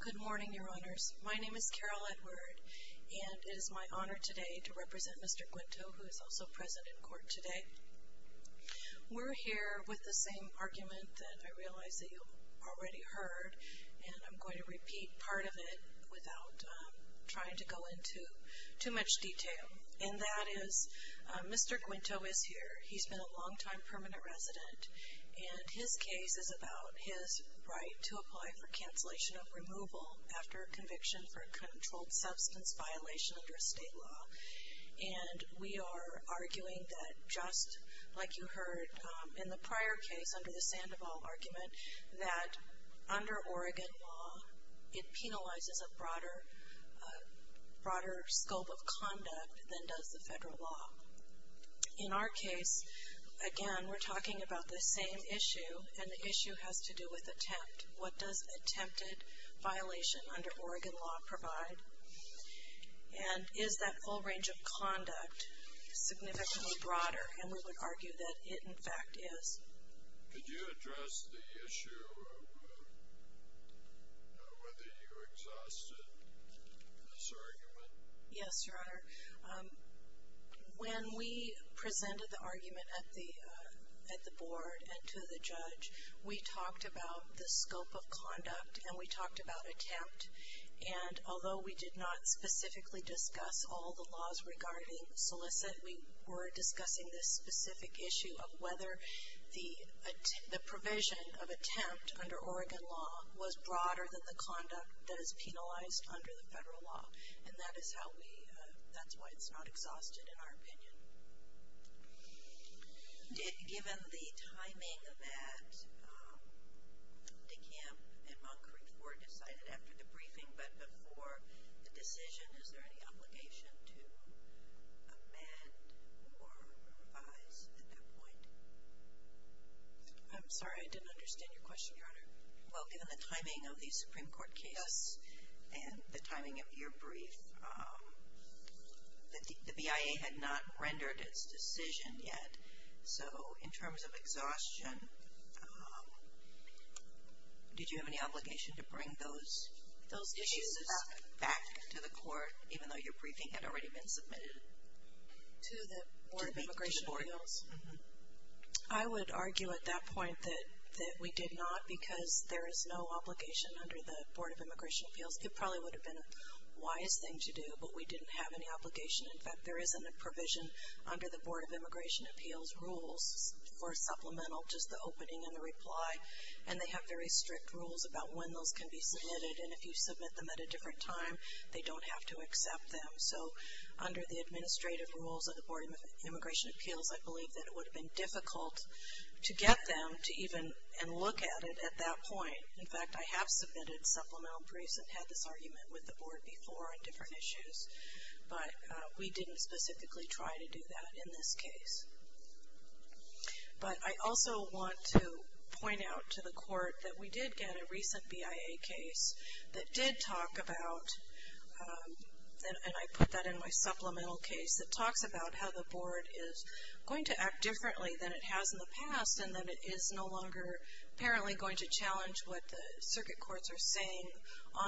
Good morning, Your Honors. My name is Carol Edward, and it is my honor today to represent Mr. Guinto, who is also present in court today. We're here with the same argument that I realize that you've already heard, and I'm going to repeat part of it without trying to go into too much detail, and that is Mr. Guinto is here. He's been a longtime permanent resident, and his case is about his right to apply for cancellation of removal after conviction for a controlled substance violation under state law, and we are arguing that just like you heard in the prior case under the Sandoval argument, that under Oregon law, it penalizes a broader scope of conduct than does the federal law. In our case, again, we're talking about the same issue, and the issue has to do with what does attempt, what does attempted violation under Oregon law provide, and is that full range of conduct significantly broader, and we would argue that it, in fact, is. Could you address the issue of whether you exhausted this argument? Yes, Your Honor. When we presented the argument at the board and to the judge, we talked about the scope of conduct, and we talked about attempt, and although we did not specifically discuss all the laws regarding solicit, we were discussing this specific issue of whether the provision of attempt under Oregon law was broader than the conduct that is penalized under the federal law, and that is how we, that's why it's not exhausted in our opinion. Given the timing that DeCamp and Moncrief were decided after the briefing, but before the decision, is there any obligation to amend or revise at that point? I'm sorry, I didn't understand your question, Your Honor. Well, given the timing of the Supreme Court case and the timing of your brief, the BIA had not rendered its decision yet, so in terms of exhaustion, did you have any obligation to bring those issues back to the court, even though your briefing had already been submitted? I would argue at that point that we did not, because there is no obligation under the Board of Immigration Appeals. It probably would have been a wise thing to do, but we didn't have any obligation. In fact, there isn't a provision under the Board of Immigration Appeals rules for supplemental, just the opening and the reply, and they have very strict rules about when those can be submitted, and if you submit them at a different time, they don't have to accept them. So under the administrative rules of the Board of Immigration Appeals, I believe that it would have been difficult to get them to even look at it at that point. In fact, I have submitted supplemental briefs and had this argument with the board before on different issues, but we didn't specifically try to do that in this case. But I also want to point out to the court that we did get a recent BIA case that did talk about, and I put that in my supplemental case, that talks about how the board is going to act differently than it has in the past, and that it is no longer apparently going to challenge what the circuit courts are saying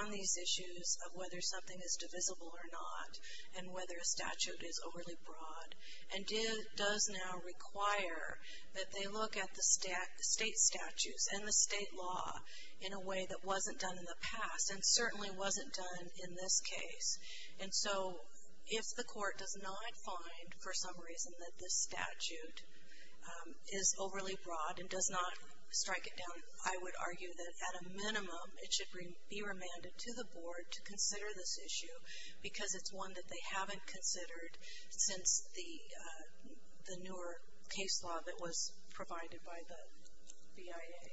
on these issues of whether something is divisible or not, and whether a statute is overly broad, and does now require that they look at the state statutes and the state law in a way that wasn't done in the past, and certainly wasn't done in this case. And so if the court does not find, for some reason, that this statute is overly broad and does not strike it down, I would argue that at a minimum it should be remanded to the board to consider this issue, because it's one that they haven't considered since the newer case law that was provided by the BIA.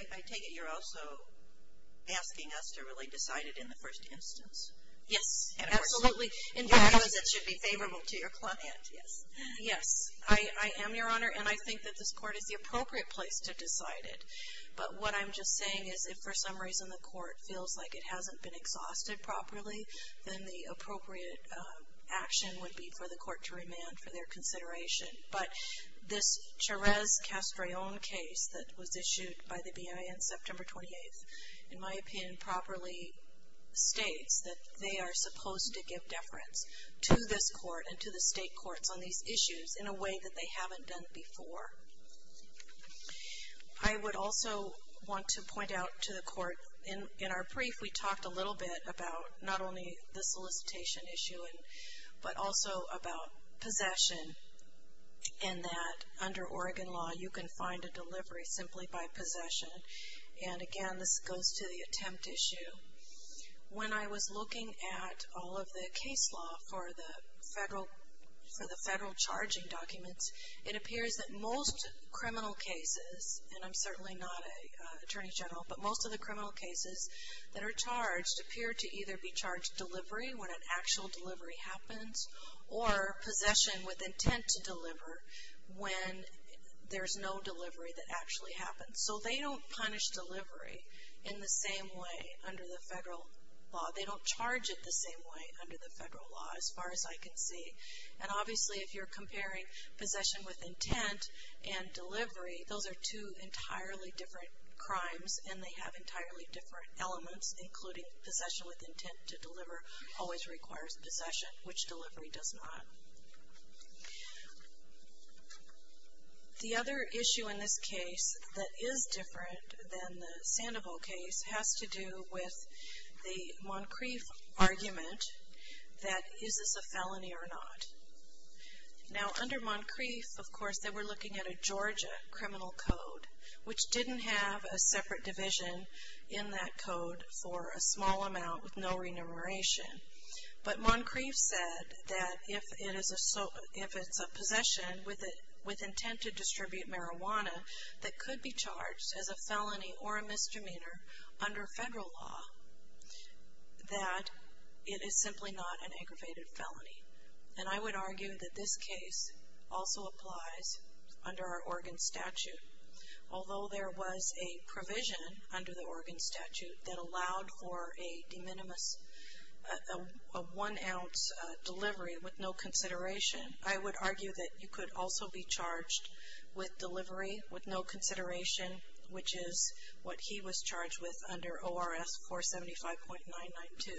And I take it you're also asking us to really decide it in the first instance? Yes. Absolutely. Because it should be favorable to your client, yes. Yes. I am, Your Honor, and I think that this court is the appropriate place to decide it. But what I'm just saying is if for some reason the court feels like it hasn't been exhausted properly, then the appropriate action would be for the court to remand for their consideration. But this Cherez-Castrillon case that was issued by the BIA on September 28th, in my opinion, properly states that they are supposed to give deference to this court and to the state courts on these issues in a way that they haven't done before. I would also want to point out to the court, in our brief, we talked a little bit about not only the solicitation issue but also about possession and that under Oregon law you can find a delivery simply by possession. And, again, this goes to the attempt issue. When I was looking at all of the case law for the federal charging documents, it appears that most criminal cases, and I'm certainly not an attorney general, but most of the criminal cases that are charged appear to either be charged delivery when an actual delivery happens or possession with intent to deliver when there's no delivery that actually happens. So they don't punish delivery in the same way under the federal law. They don't charge it the same way under the federal law as far as I can see. And, obviously, if you're comparing possession with intent and delivery, those are two entirely different crimes and they have entirely different elements, including possession with intent to deliver always requires possession, which delivery does not. The other issue in this case that is different than the Sandoval case has to do with the Moncrief argument that is this a felony or not. Now, under Moncrief, of course, they were looking at a Georgia criminal code, which didn't have a separate division in that code for a small amount with no remuneration. But Moncrief said that if it's a possession with intent to distribute marijuana that could be charged as a felony or a misdemeanor under federal law, that it is simply not an aggravated felony. And I would argue that this case also applies under our Oregon statute. Although there was a provision under the Oregon statute that allowed for a de minimis, a one-ounce delivery with no consideration, I would argue that you could also be charged with delivery with no consideration, which is what he was charged with under ORS 475.992,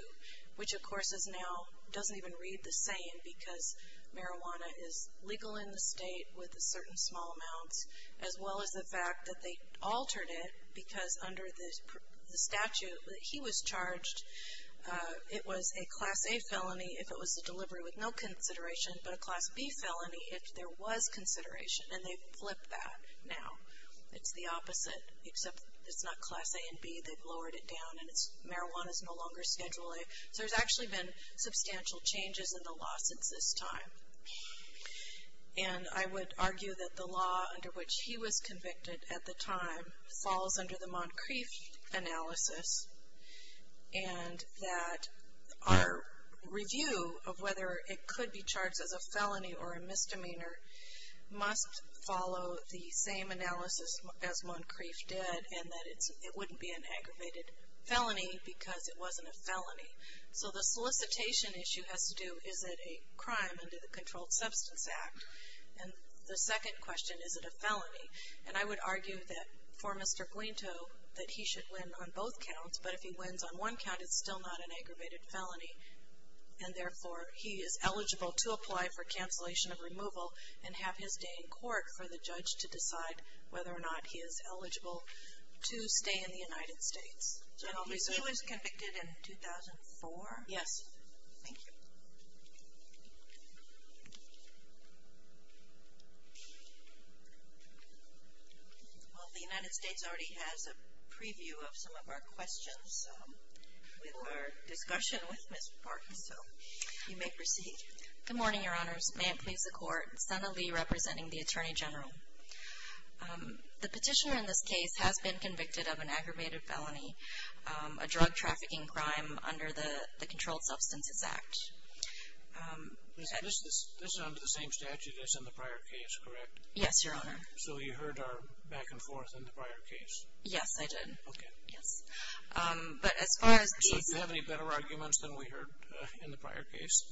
which, of course, now doesn't even read the same because marijuana is legal in the state with certain small amounts, as well as the fact that they altered it because under the statute that he was charged, it was a Class A felony if it was a delivery with no consideration, but a Class B felony if there was consideration. And they've flipped that now. It's the opposite, except it's not Class A and B. They've lowered it down, and marijuana is no longer Schedule A. So there's actually been substantial changes in the law since this time. And I would argue that the law under which he was convicted at the time falls under the Moncrief analysis, and that our review of whether it could be charged as a felony or a misdemeanor must follow the same analysis as Moncrief did, and that it wouldn't be an aggravated felony because it wasn't a felony. So the solicitation issue has to do, is it a crime under the Controlled Substance Act? And the second question, is it a felony? And I would argue that for Mr. Guinto, that he should win on both counts, but if he wins on one count, it's still not an aggravated felony, and therefore he is eligible to apply for cancellation of removal and have his day in court for the judge to decide whether or not he is eligible to stay in the United States. So he was convicted in 2004? Yes. Thank you. Well, the United States already has a preview of some of our questions. We have our discussion with Ms. Park, so you may proceed. Good morning, Your Honors. May it please the Court. Sena Lee representing the Attorney General. The petitioner in this case has been convicted of an aggravated felony, a drug trafficking crime under the Controlled Substances Act. This is under the same statute as in the prior case, correct? Yes, Your Honor. So you heard our back and forth in the prior case? Yes, I did. Okay. So do you have any better arguments than we heard in the prior case?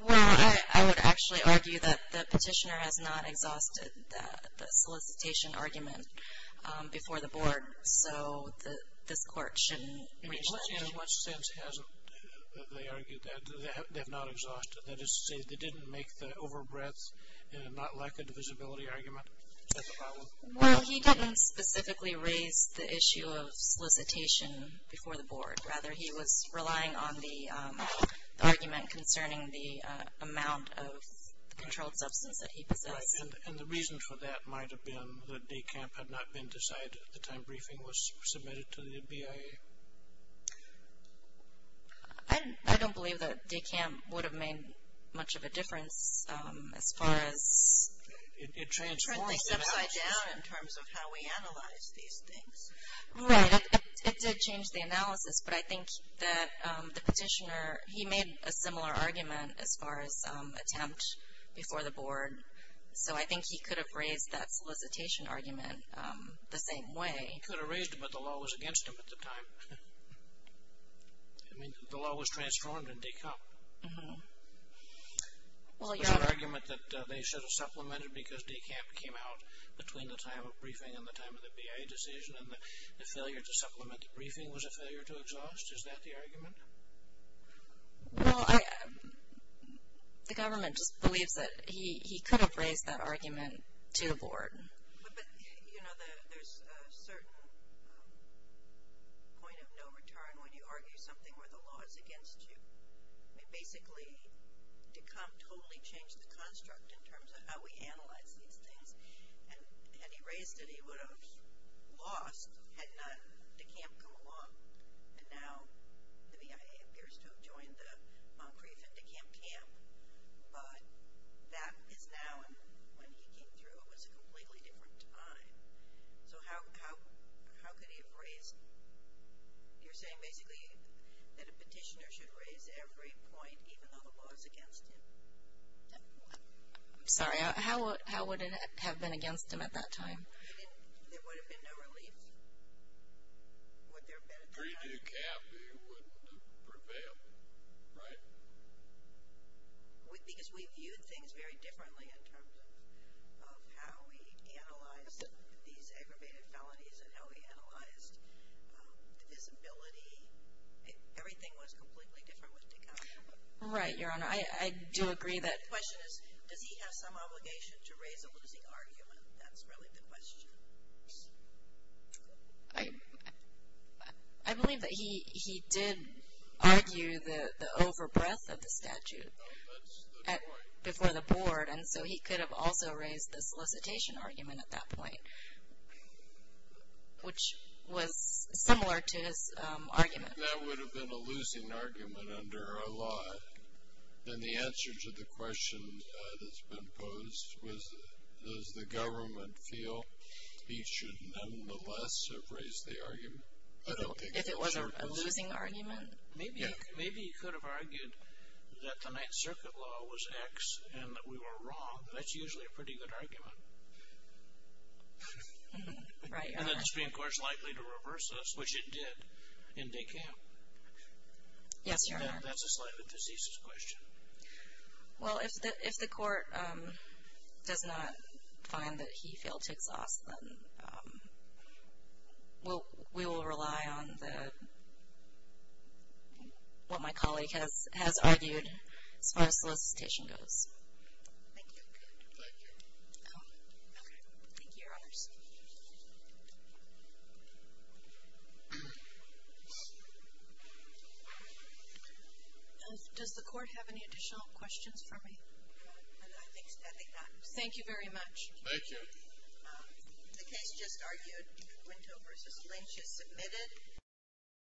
Well, I would actually argue that the petitioner has not exhausted the solicitation argument before the Board, so this Court shouldn't reach that. In what sense hasn't they argued that? They have not exhausted it? That is to say they didn't make the overbreadth and not lack of divisibility argument? Is that the problem? Well, he didn't specifically raise the issue of solicitation before the Board. Rather, he was relying on the argument concerning the amount of the controlled substance that he possessed. And the reason for that might have been that DECAMP had not been decided at the time briefing was submitted to the BIA. I don't believe that DECAMP would have made much of a difference as far as turning things upside down in terms of how we analyze these things. Right. It did change the analysis, but I think that the petitioner, he made a similar argument as far as attempt before the Board. So I think he could have raised that solicitation argument the same way. He could have raised it, but the law was against him at the time. I mean, the law was transformed in DECAMP. Was the argument that they should have supplemented because DECAMP came out between the time of briefing and the time of the BIA decision and the failure to supplement the briefing was a failure to exhaust? Is that the argument? Well, the government just believes that he could have raised that argument to the Board. But, you know, there's a certain point of no return when you argue something where the law is against you. I mean, basically, DECAMP totally changed the construct in terms of how we analyze these things. Had he raised it, he would have lost had not DECAMP come along. And now the BIA appears to have joined the Moncrief and DECAMP camp. But that is now, and when he came through, it was a completely different time. So how could he have raised it? You're saying basically that a petitioner should raise every point, even though the law is against him? Sorry, how would it have been against him at that time? There would have been no relief. Would there have been at the time? Pre-DECAMP, he would have prevailed, right? Because we viewed things very differently in terms of how we analyzed these aggravated felonies and how we analyzed the visibility. Everything was completely different with DECAMP. Right, Your Honor. I do agree that. The question is, does he have some obligation to raise a losing argument? That's really the question. I believe that he did argue the over-breath of the statute before the board. And so he could have also raised the solicitation argument at that point, which was similar to his argument. That would have been a losing argument under our law. And the answer to the question that's been posed was, does the government feel he should nonetheless have raised the argument? If it was a losing argument? Maybe he could have argued that the Ninth Circuit law was X and that we were wrong. That's usually a pretty good argument. Right, Your Honor. And that the Supreme Court is likely to reverse this, which it did in DECAMP. Yes, Your Honor. That's a slightly diseases question. Well, if the court does not find that he failed to exhaust, then we will rely on what my colleague has argued as far as solicitation goes. Thank you. Thank you. Thank you, Your Honors. Does the court have any additional questions for me? I think that's all we have. Thank you very much. Thank you. The case just argued, Quinto v. Lynch is submitted.